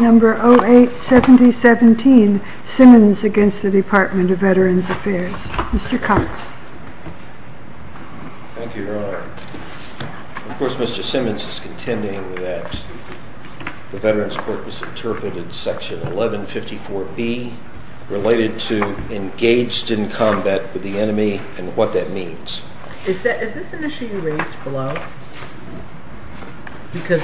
Number 087017, Simmons against the Department of Veterans Affairs. Mr. Cox. Thank you, Your Honor. Of course, Mr. Simmons is contending that the Veterans Court misinterpreted section 1154B related to engaged in combat with the enemy and what that means. Is this an issue you raised below? Because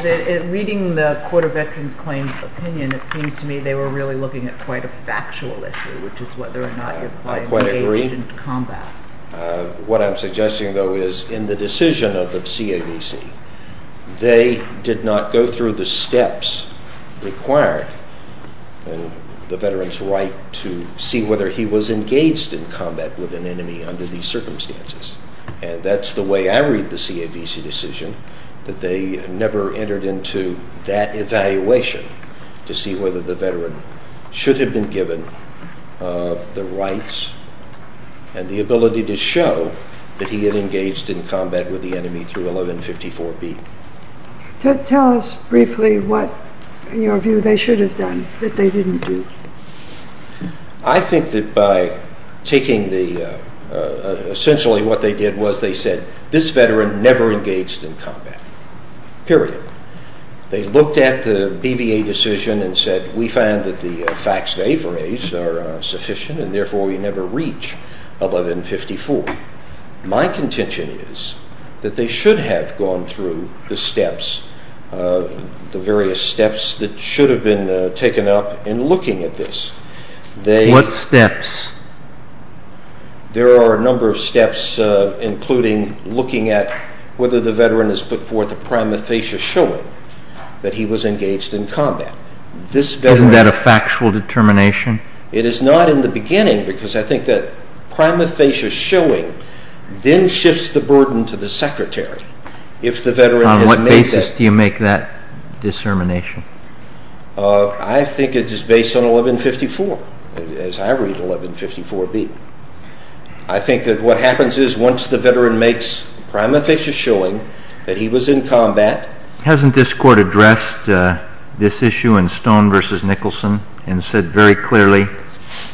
reading the Court of Veterans Claims opinion, it seems to me they were really looking at quite a factual issue, which is whether or not your client engaged in combat. I quite agree. What I'm suggesting, though, is in the decision of the CAVC, they did not go through the steps required in the veteran's right to see whether he was engaged in combat with an enemy under these circumstances. And that's the way I read the CAVC decision, that they never entered into that evaluation to see whether the veteran should have been given the rights and the ability to show that he had engaged in combat with the enemy through 1154B. Tell us briefly what, in your view, they should have done that they didn't do. I think that by taking the – essentially what they did was they said, this veteran never engaged in combat, period. They looked at the BVA decision and said, we find that the facts they've raised are sufficient and therefore we never reach 1154. My contention is that they should have gone through the steps, the various steps that should have been taken up in looking at this. What steps? There are a number of steps, including looking at whether the veteran has put forth a prima facie showing that he was engaged in combat. Isn't that a factual determination? It is not in the beginning because I think that prima facie showing then shifts the burden to the secretary. On what basis do you make that determination? I think it is based on 1154, as I read 1154B. I think that what happens is once the veteran makes prima facie showing that he was in combat – Hasn't this court addressed this issue in Stone v. Nicholson and said very clearly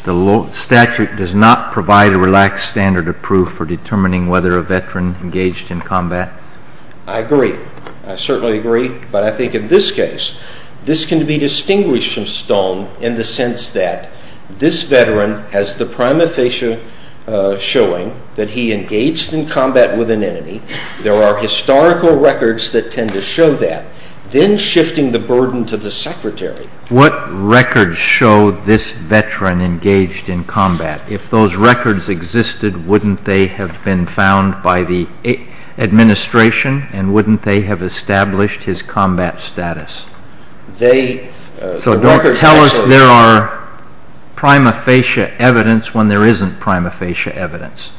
the statute does not provide a relaxed standard of proof for determining whether a veteran engaged in combat? I agree. I certainly agree, but I think in this case, this can be distinguished from Stone in the sense that this veteran has the prima facie showing that he engaged in combat with an enemy. There are historical records that tend to show that, then shifting the burden to the secretary. What records show this veteran engaged in combat? If those records existed, wouldn't they have been found by the administration and wouldn't they have established his combat status? So don't tell us there are prima facie evidence when there isn't prima facie evidence,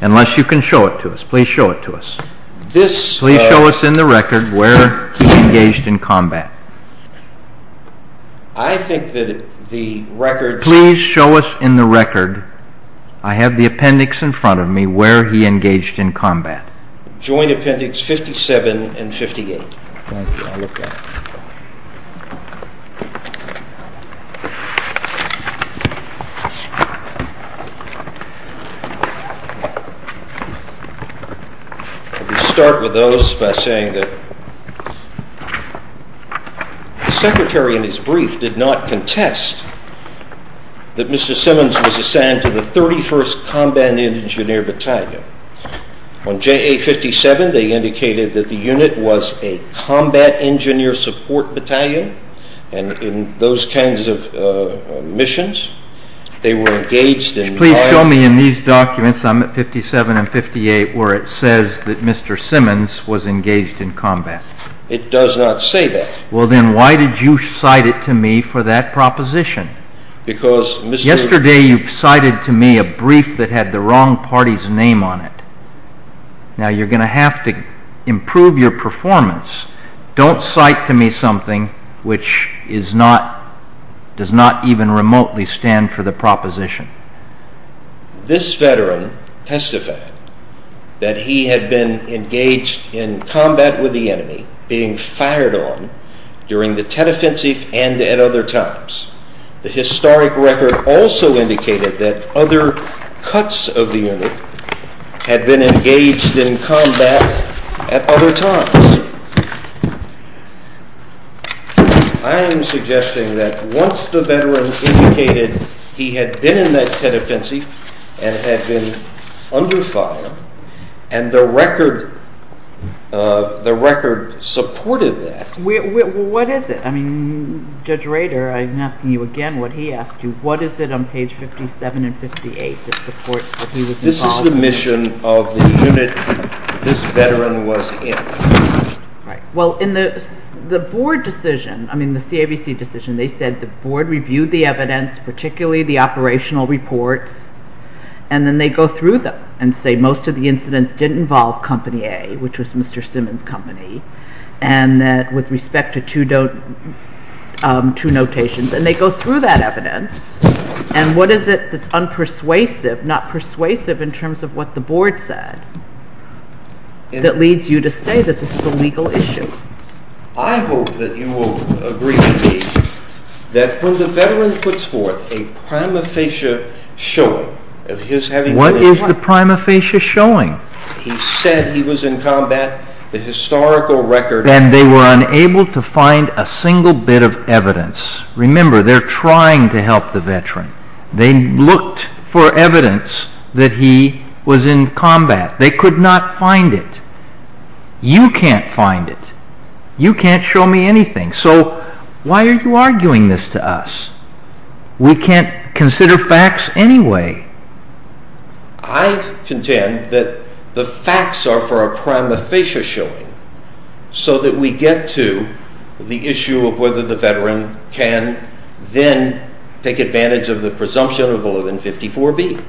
unless you can show it to us. Please show it to us. Please show us in the record where he engaged in combat. Please show us in the record. I have the appendix in front of me where he engaged in combat. Joint appendix 57 and 58. Let me start with those by saying that the secretary in his brief did not contest that Mr. Simmons was assigned to the 31st Combat Engineer Battalion. On JA57, they indicated that the unit was a Combat Engineer Support Battalion, and in those kinds of missions, they were engaged in combat. Please show me in these documents, I'm at 57 and 58, where it says that Mr. Simmons was engaged in combat. It does not say that. Well, then why did you cite it to me for that proposition? Because Mr. Yesterday you cited to me a brief that had the wrong party's name on it. Now, you're going to have to improve your performance. Don't cite to me something which does not even remotely stand for the proposition. This veteran testified that he had been engaged in combat with the enemy, being fired on during the Tet Offensive and at other times. The historic record also indicated that other cuts of the unit had been engaged in combat at other times. I am suggesting that once the veteran indicated he had been in that Tet Offensive and had been under fire, and the record supported that. What is it? I mean, Judge Rader, I'm asking you again what he asked you. What is it on page 57 and 58 that supports that he was involved? This is the mission of the unit this veteran was in. Well, in the board decision, I mean the CAVC decision, they said the board reviewed the evidence, particularly the operational reports, and then they go through them and say most of the incidents didn't involve Company A, which was Mr. Simmons' company, and that with respect to two notations. And they go through that evidence. And what is it that's unpersuasive, not persuasive in terms of what the board said, that leads you to say that this is a legal issue? I hope that you will agree with me that when the veteran puts forth a prima facie showing of his having been in combat, he said he was in combat, the historical record. Remember, they're trying to help the veteran. They looked for evidence that he was in combat. They could not find it. You can't find it. You can't show me anything. So why are you arguing this to us? We can't consider facts anyway. I contend that the facts are for a prima facie showing so that we get to the issue of whether the veteran can then take advantage of the presumption of 1154B.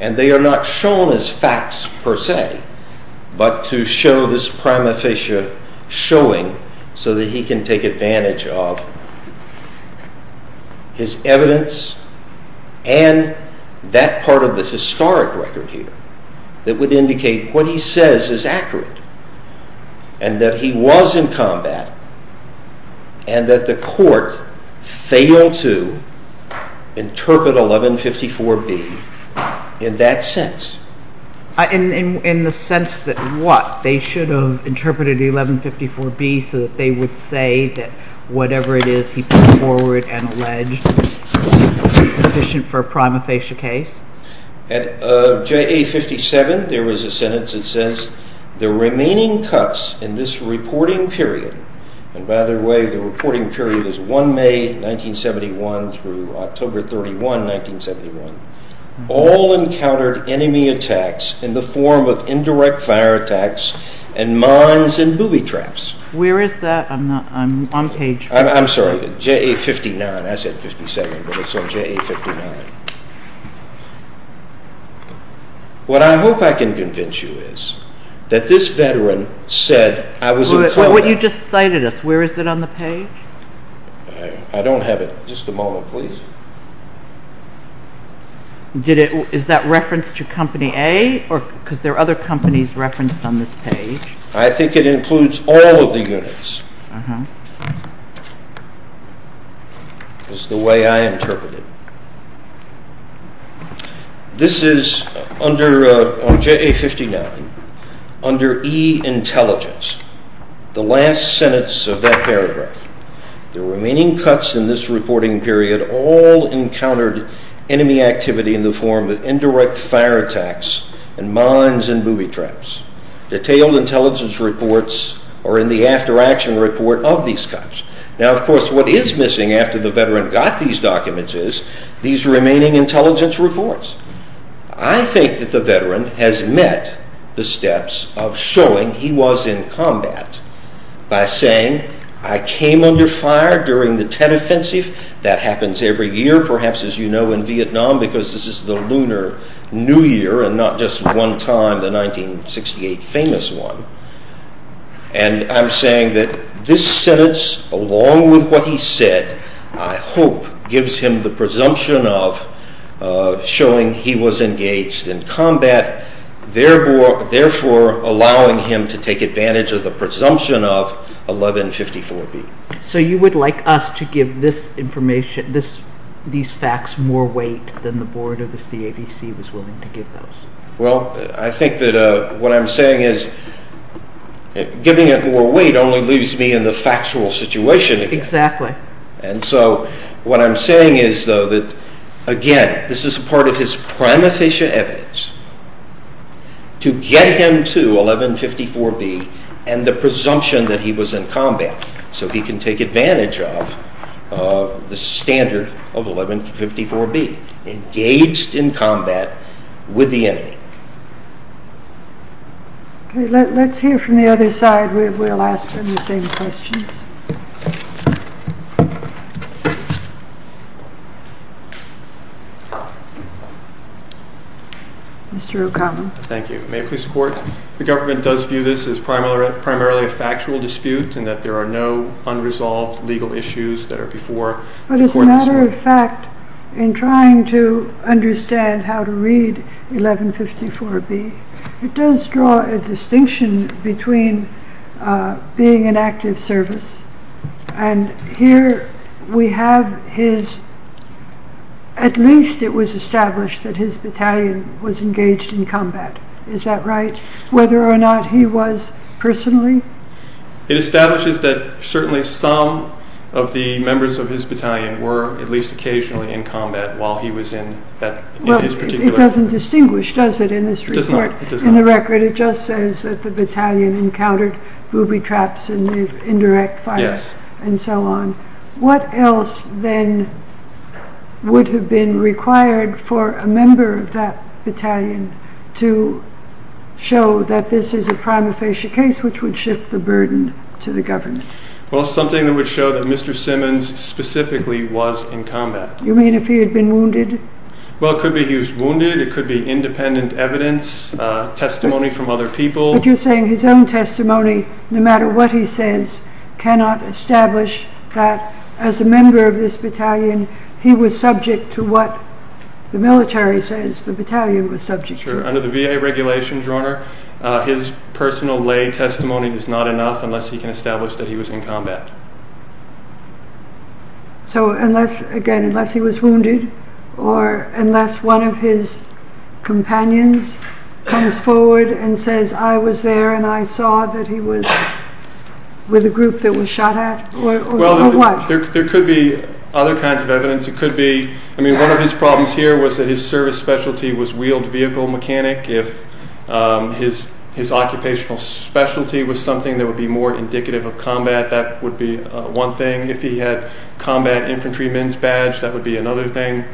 And they are not shown as facts per se but to show this prima facie showing so that he can take advantage of his evidence and that part of the historic record here that would indicate what he says is accurate and that he was in combat and that the court failed to interpret 1154B in that sense. In the sense that what? They should have interpreted 1154B so that they would say that whatever it is he put forward and alleged sufficient for a prima facie case? At JA57 there was a sentence that says, the remaining cuts in this reporting period, and by the way the reporting period is 1 May 1971 through October 31, 1971, all encountered enemy attacks in the form of indirect fire attacks and mines and booby traps. Where is that? I'm on page... I'm sorry, JA59. I said 57 but it's on JA59. What I hope I can convince you is that this veteran said, I was in combat. What you just cited us, where is it on the page? I don't have it. Just a moment please. Is that referenced to Company A? Because there are other companies referenced on this page. I think it includes all of the units is the way I interpret it. This is on JA59, under E intelligence, the last sentence of that paragraph. The remaining cuts in this reporting period all encountered enemy activity in the form of indirect fire attacks and mines and booby traps. Detailed intelligence reports are in the after action report of these cuts. Now of course what is missing after the veteran got these documents is these remaining intelligence reports. I think that the veteran has met the steps of showing he was in combat by saying I came under fire during the Tet Offensive. That happens every year perhaps as you know in Vietnam because this is the Lunar New Year and not just one time, the 1968 famous one. I'm saying that this sentence along with what he said, I hope, gives him the presumption of showing he was engaged in combat, therefore allowing him to take advantage of the presumption of 1154B. So you would like us to give this information, these facts, more weight than the board of the CADC was willing to give those? Well, I think that what I'm saying is giving it more weight only leaves me in the factual situation again. Exactly. And so what I'm saying is though that again, this is part of his primeficient evidence to get him to 1154B and the presumption that he was in combat so he can take advantage of the standard of 1154B, engaged in combat with the enemy. Okay, let's hear from the other side. We'll ask them the same questions. Mr. O'Connell. Thank you. May I please report? The government does view this as primarily a factual dispute and that there are no unresolved legal issues that are before the court. But as a matter of fact, in trying to understand how to read 1154B, it does draw a distinction between being an active service and here we have his, at least it was established that his battalion was engaged in combat. Is that right? Whether or not he was personally? It establishes that certainly some of the members of his battalion were at least occasionally in combat while he was in his particular. Well, it doesn't distinguish, does it, in this report? It does not. In the record it just says that the battalion encountered booby traps and indirect fire and so on. What else then would have been required for a member of that battalion to show that this is a prima facie case which would shift the burden to the government? Well, something that would show that Mr. Simmons specifically was in combat. You mean if he had been wounded? Well, it could be he was wounded. It could be independent evidence, testimony from other people. But you're saying his own testimony, no matter what he says, cannot establish that as a member of this battalion he was subject to what the military says the battalion was subject to. Sure. Under the VA regulations, Your Honor, his personal lay testimony is not enough unless he can establish that he was in combat. So again, unless he was wounded or unless one of his companions comes forward and says, I was there and I saw that he was with a group that was shot at, or what? There could be other kinds of evidence. It could be, I mean, one of his problems here was that his service specialty was wheeled vehicle mechanic. If his occupational specialty was something that would be more indicative of combat, that would be one thing. If he had combat infantry men's badge, that would be another thing.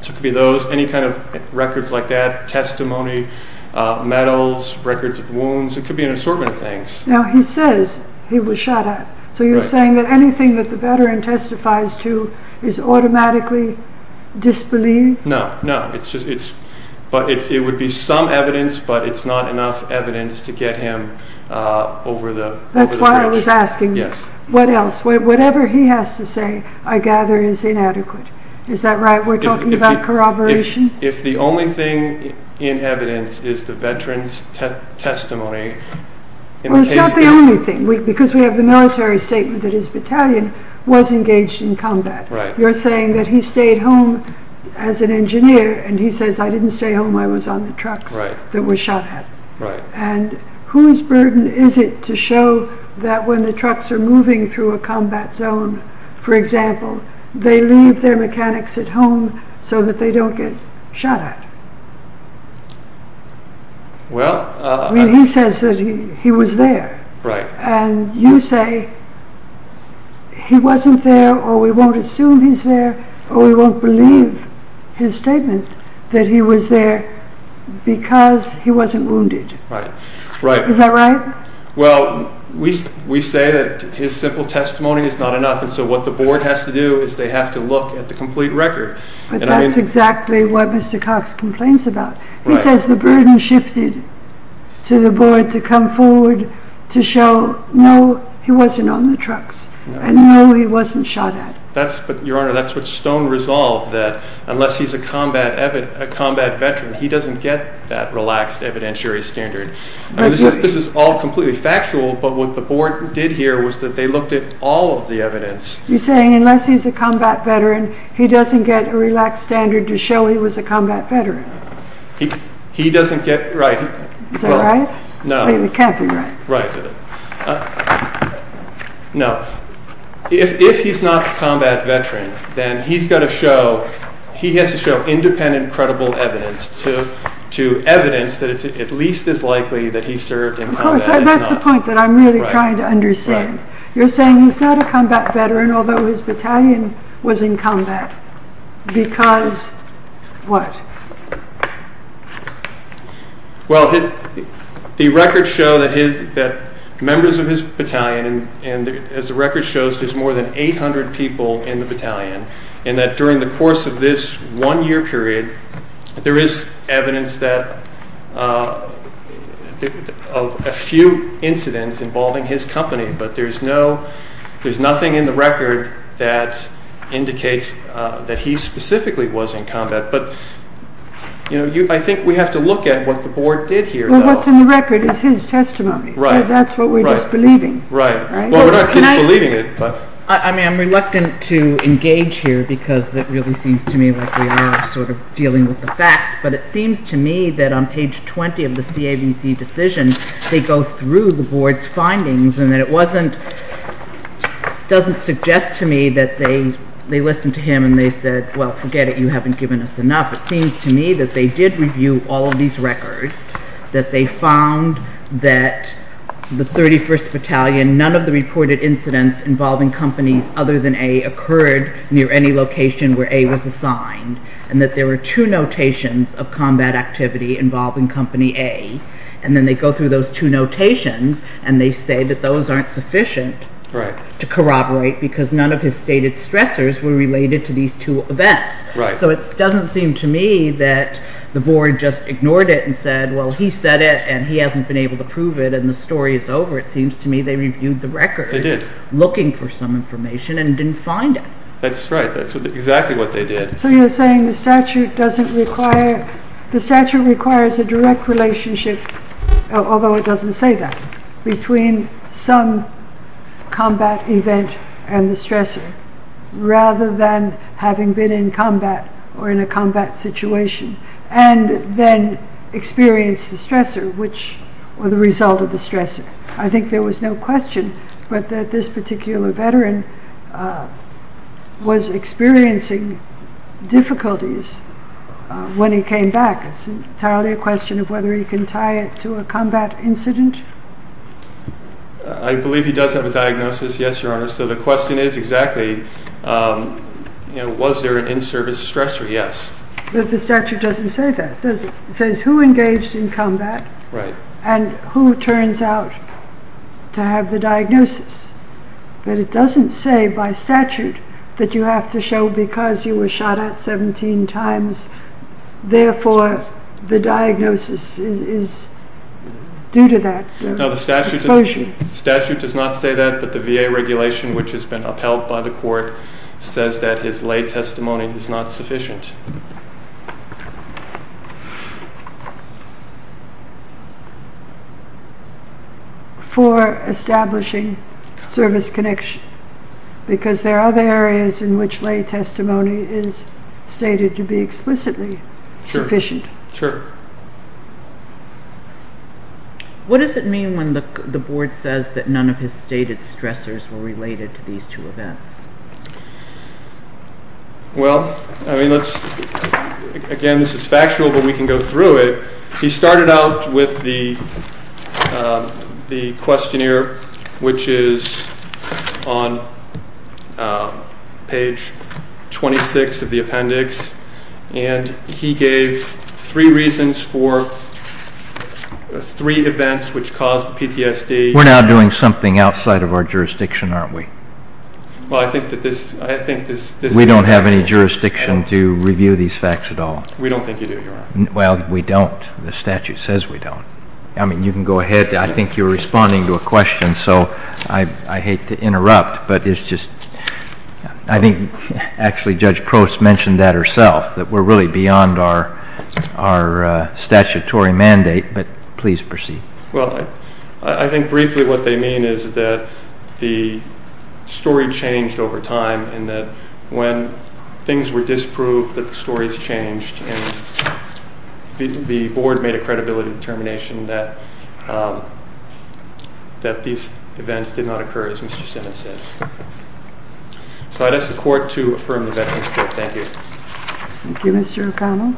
So it could be those, any kind of records like that, testimony, medals, records of wounds. It could be an assortment of things. Now he says he was shot at. So you're saying that anything that the battalion testifies to is automatically disbelieved? No, no. It would be some evidence, but it's not enough evidence to get him over the bridge. That's why I was asking. Yes. What else? Whatever he has to say, I gather is inadequate. Is that right? We're talking about corroboration? If the only thing in evidence is the veteran's testimony... Well, it's not the only thing, because we have the military statement that his battalion was engaged in combat. You're saying that he stayed home as an engineer, and he says, I didn't stay home. I was on the trucks that were shot at. And whose burden is it to show that when the trucks are moving through a combat zone, for example, they leave their mechanics at home so that they don't get shot at? Well... I mean, he says that he was there. Right. And you say he wasn't there, or we won't assume he's there, or we won't believe his statement that he was there because he wasn't wounded. Right, right. Is that right? Well, we say that his simple testimony is not enough, and so what the board has to do is they have to look at the complete record. But that's exactly what Mr. Cox complains about. Right. He says the burden shifted to the board to come forward to show, no, he wasn't on the trucks, and no, he wasn't shot at. Your Honor, that's what's stone resolved, that unless he's a combat veteran, he doesn't get that relaxed evidentiary standard. This is all completely factual, but what the board did here was that they looked at all of the evidence. You're saying unless he's a combat veteran, he doesn't get a relaxed standard to show he was a combat veteran. He doesn't get, right. Is that right? No. It can't be right. Right. No. If he's not a combat veteran, then he has to show independent, credible evidence to evidence that it's at least as likely that he served in combat. That's the point that I'm really trying to understand. You're saying he's not a combat veteran, although his battalion was in combat, because what? Well, the records show that members of his battalion, and as the record shows, there's more than 800 people in the battalion, and that during the course of this one-year period, there is evidence that a few incidents involving his company, but there's nothing in the record that indicates that he specifically was in combat. But I think we have to look at what the board did here. Well, what's in the record is his testimony. Right. That's what we're disbelieving. Right. Well, we're not disbelieving it. I mean, I'm reluctant to engage here because it really seems to me like we are sort of dealing with the facts, but it seems to me that on page 20 of the CABC decision, they go through the board's findings and that it doesn't suggest to me that they listened to him and they said, well, forget it, you haven't given us enough. It seems to me that they did review all of these records, that they found that the 31st Battalion, none of the reported incidents involving companies other than A occurred near any location where A was assigned, and that there were two notations of combat activity involving company A, and then they go through those two notations and they say that those aren't sufficient to corroborate because none of his stated stressors were related to these two events. So it doesn't seem to me that the board just ignored it and said, well, he said it and he hasn't been able to prove it and the story is over. It seems to me they reviewed the record looking for some information and didn't find it. That's right. That's exactly what they did. So you're saying the statute requires a direct relationship, although it doesn't say that, between some combat event and the stressor rather than having been in combat or in a combat situation and then experienced the stressor or the result of the stressor. I think there was no question, but that this particular veteran was experiencing difficulties when he came back. It's entirely a question of whether he can tie it to a combat incident. I believe he does have a diagnosis, yes, your honor. So the question is exactly, was there an in-service stressor? Yes. But the statute doesn't say that. It says who engaged in combat and who turns out to have the diagnosis. But it doesn't say by statute that you have to show because you were shot at 17 times, therefore the diagnosis is due to that. No, the statute does not say that, but the VA regulation, which has been upheld by the court, says that his lay testimony is not sufficient for establishing service connection because there are other areas in which lay testimony is stated to be explicitly sufficient. Sure. What does it mean when the board says that none of his stated stressors were related to these two events? Well, again this is factual, but we can go through it. He started out with the questionnaire, which is on page 26 of the appendix, and he gave three reasons for three events which caused PTSD. We're now doing something outside of our jurisdiction, aren't we? Well, I think that this... We don't have any jurisdiction to review these facts at all. We don't think you do, your honor. Well, we don't. The statute says we don't. I mean, you can go ahead. I think you're responding to a question, so I hate to interrupt, but it's just... I think actually Judge Crouse mentioned that herself, that we're really beyond our statutory mandate, but please proceed. Well, I think briefly what they mean is that the story changed over time and that when things were disproved that the stories changed, and the board made a credibility determination that these events did not occur, as Mr. Simmons said. So I'd ask the court to affirm the veterans' court. Thank you. Thank you, Mr. O'Connell.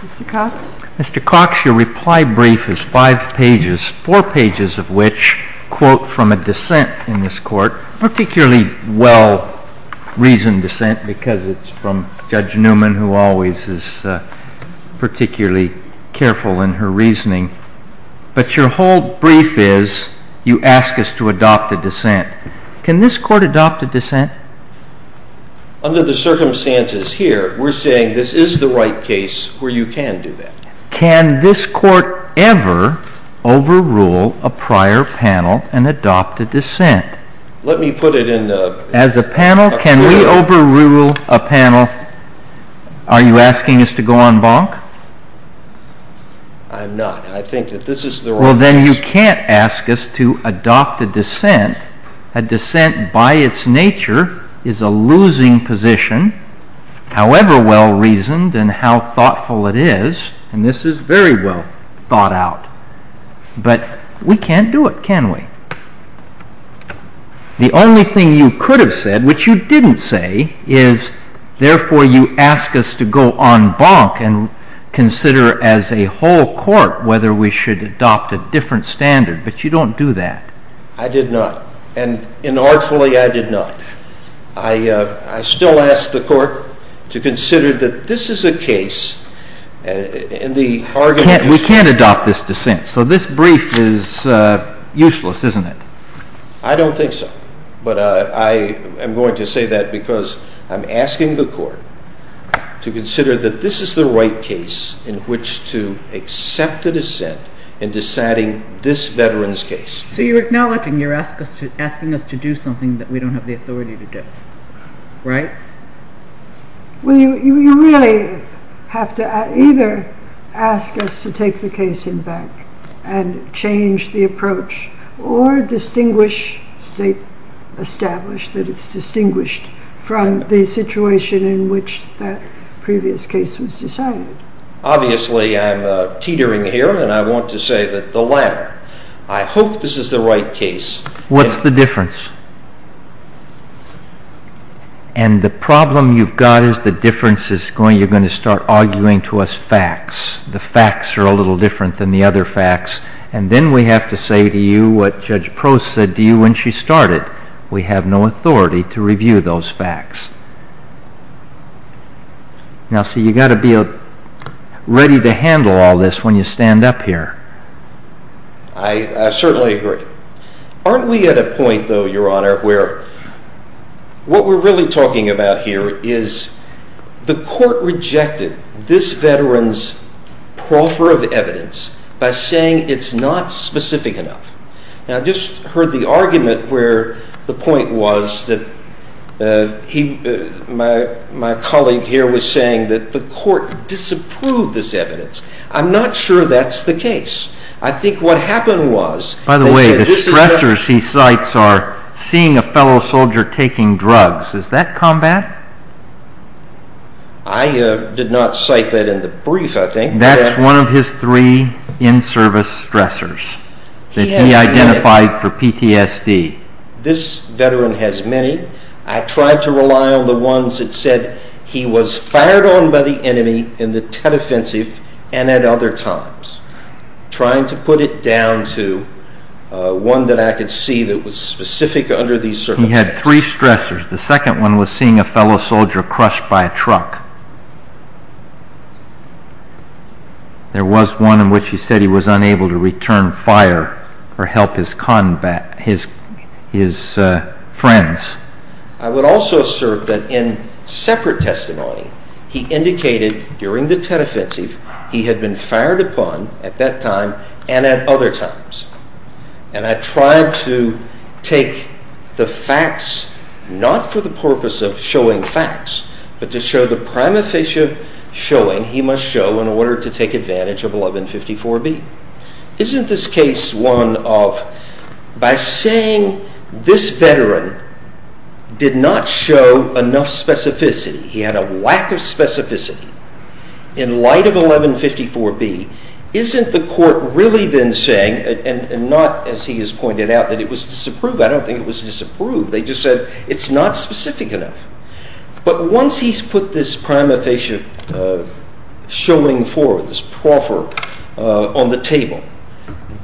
Mr. Cox? Mr. Cox, your reply brief is five pages, four pages of which quote from a dissent in this court, particularly well-reasoned dissent because it's from Judge Newman, who always is particularly careful in her reasoning. But your whole brief is, you ask us to adopt a dissent. Can this court adopt a dissent? Under the circumstances here, we're saying this is the right case where you can do that. Can this court ever overrule a prior panel and adopt a dissent? Let me put it in... As a panel, can we overrule a panel? Are you asking us to go on bonk? I'm not. I think that this is the wrong case. Well, then you can't ask us to adopt a dissent. A dissent by its nature is a losing position, however well-reasoned and how thoughtful it is. And this is very well thought out. But we can't do it, can we? The only thing you could have said, which you didn't say, is therefore you ask us to go on bonk and consider as a whole court whether we should adopt a different standard. But you don't do that. I did not. And inartfully, I did not. I still ask the court to consider that this is a case in the argument... We can't adopt this dissent, so this brief is useless, isn't it? I don't think so. But I am going to say that because I'm asking the court to consider that this is the right case in which to accept a dissent in deciding this veteran's case. So you're acknowledging, you're asking us to do something that we don't have the authority to do. Right? Well, you really have to either ask us to take the case in back and change the approach or distinguish, state established that it's distinguished from the situation in which that previous case was decided. Obviously, I'm teetering here and I want to say that the latter. I hope this is the right case. What's the difference? And the problem you've got is the difference is you're going to start arguing to us facts. The facts are a little different than the other facts. And then we have to say to you what Judge Prost said to you when she started. We have no authority to review those facts. Now, see, you've got to be ready to handle all this when you stand up here. I certainly agree. Aren't we at a point, though, Your Honor, where what we're really talking about here is the court rejected this veteran's proffer of evidence by saying it's not specific enough. Now, I just heard the argument where the point was that my colleague here was saying that the court disapproved this evidence. I'm not sure that's the case. I think what happened was they said this is... By the way, the stressors he cites are seeing a fellow soldier taking drugs. Is that combat? I did not cite that in the brief, I think. That's one of his three in-service stressors that he identified for PTSD. This veteran has many. I tried to rely on the ones that said he was fired on by the enemy in the Tet Offensive and at other times, trying to put it down to one that I could see that was specific under these circumstances. He had three stressors. The second one was seeing a fellow soldier crushed by a truck. There was one in which he said he was unable to return fire or help his friends. I would also assert that in separate testimony, he indicated during the Tet Offensive he had been fired upon at that time and at other times, and I tried to take the facts not for the purpose of showing facts, but to show the prima facie showing he must show in order to take advantage of 1154B. Isn't this case one of by saying this veteran did not show enough specificity, he had a lack of specificity in light of 1154B, isn't the court really then saying, and not as he has pointed out, that it was disapproved? I don't think it was disapproved. They just said it's not specific enough. But once he's put this prima facie showing forward, this proffer on the table,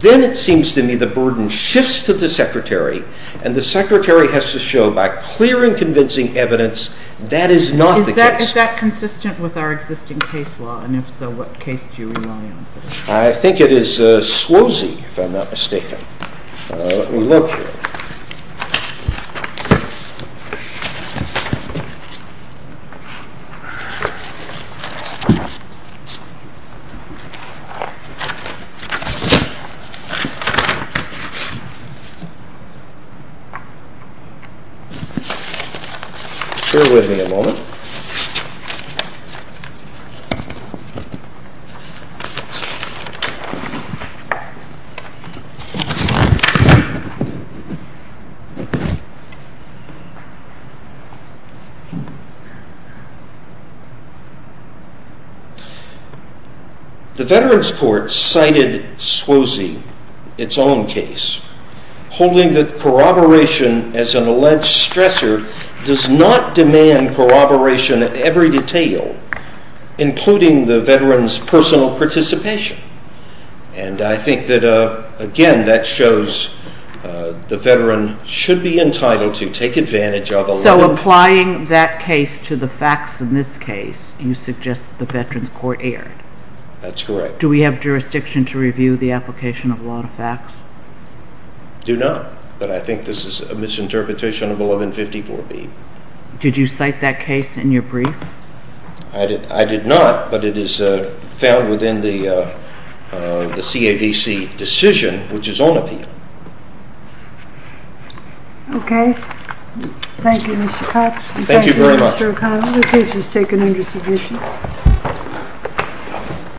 then it seems to me the burden shifts to the Secretary and the Secretary has to show by clear and convincing evidence that is not the case. Is that consistent with our existing case law, and if so, what case do you rely on? I think it is Swozy, if I'm not mistaken. Let me look here. Bear with me a moment. The Veterans Court cited Swozy, its own case, holding that corroboration as an alleged stressor does not demand corroboration of every detail, including the veteran's personal participation. And I think that again that shows the veteran should be entitled to take advantage of 1154B. So applying that case to the facts in this case, you suggest the Veterans Court erred? That's correct. Do we have jurisdiction to review the application of a lot of facts? Do not, but I think this is a misinterpretation of 1154B. Did you cite that case in your brief? I did not, but it is found within the CAVC decision, which is on appeal. Okay. Thank you, Mr. Cox. Thank you very much. Thank you, Mr. O'Connell. The case is taken under submission.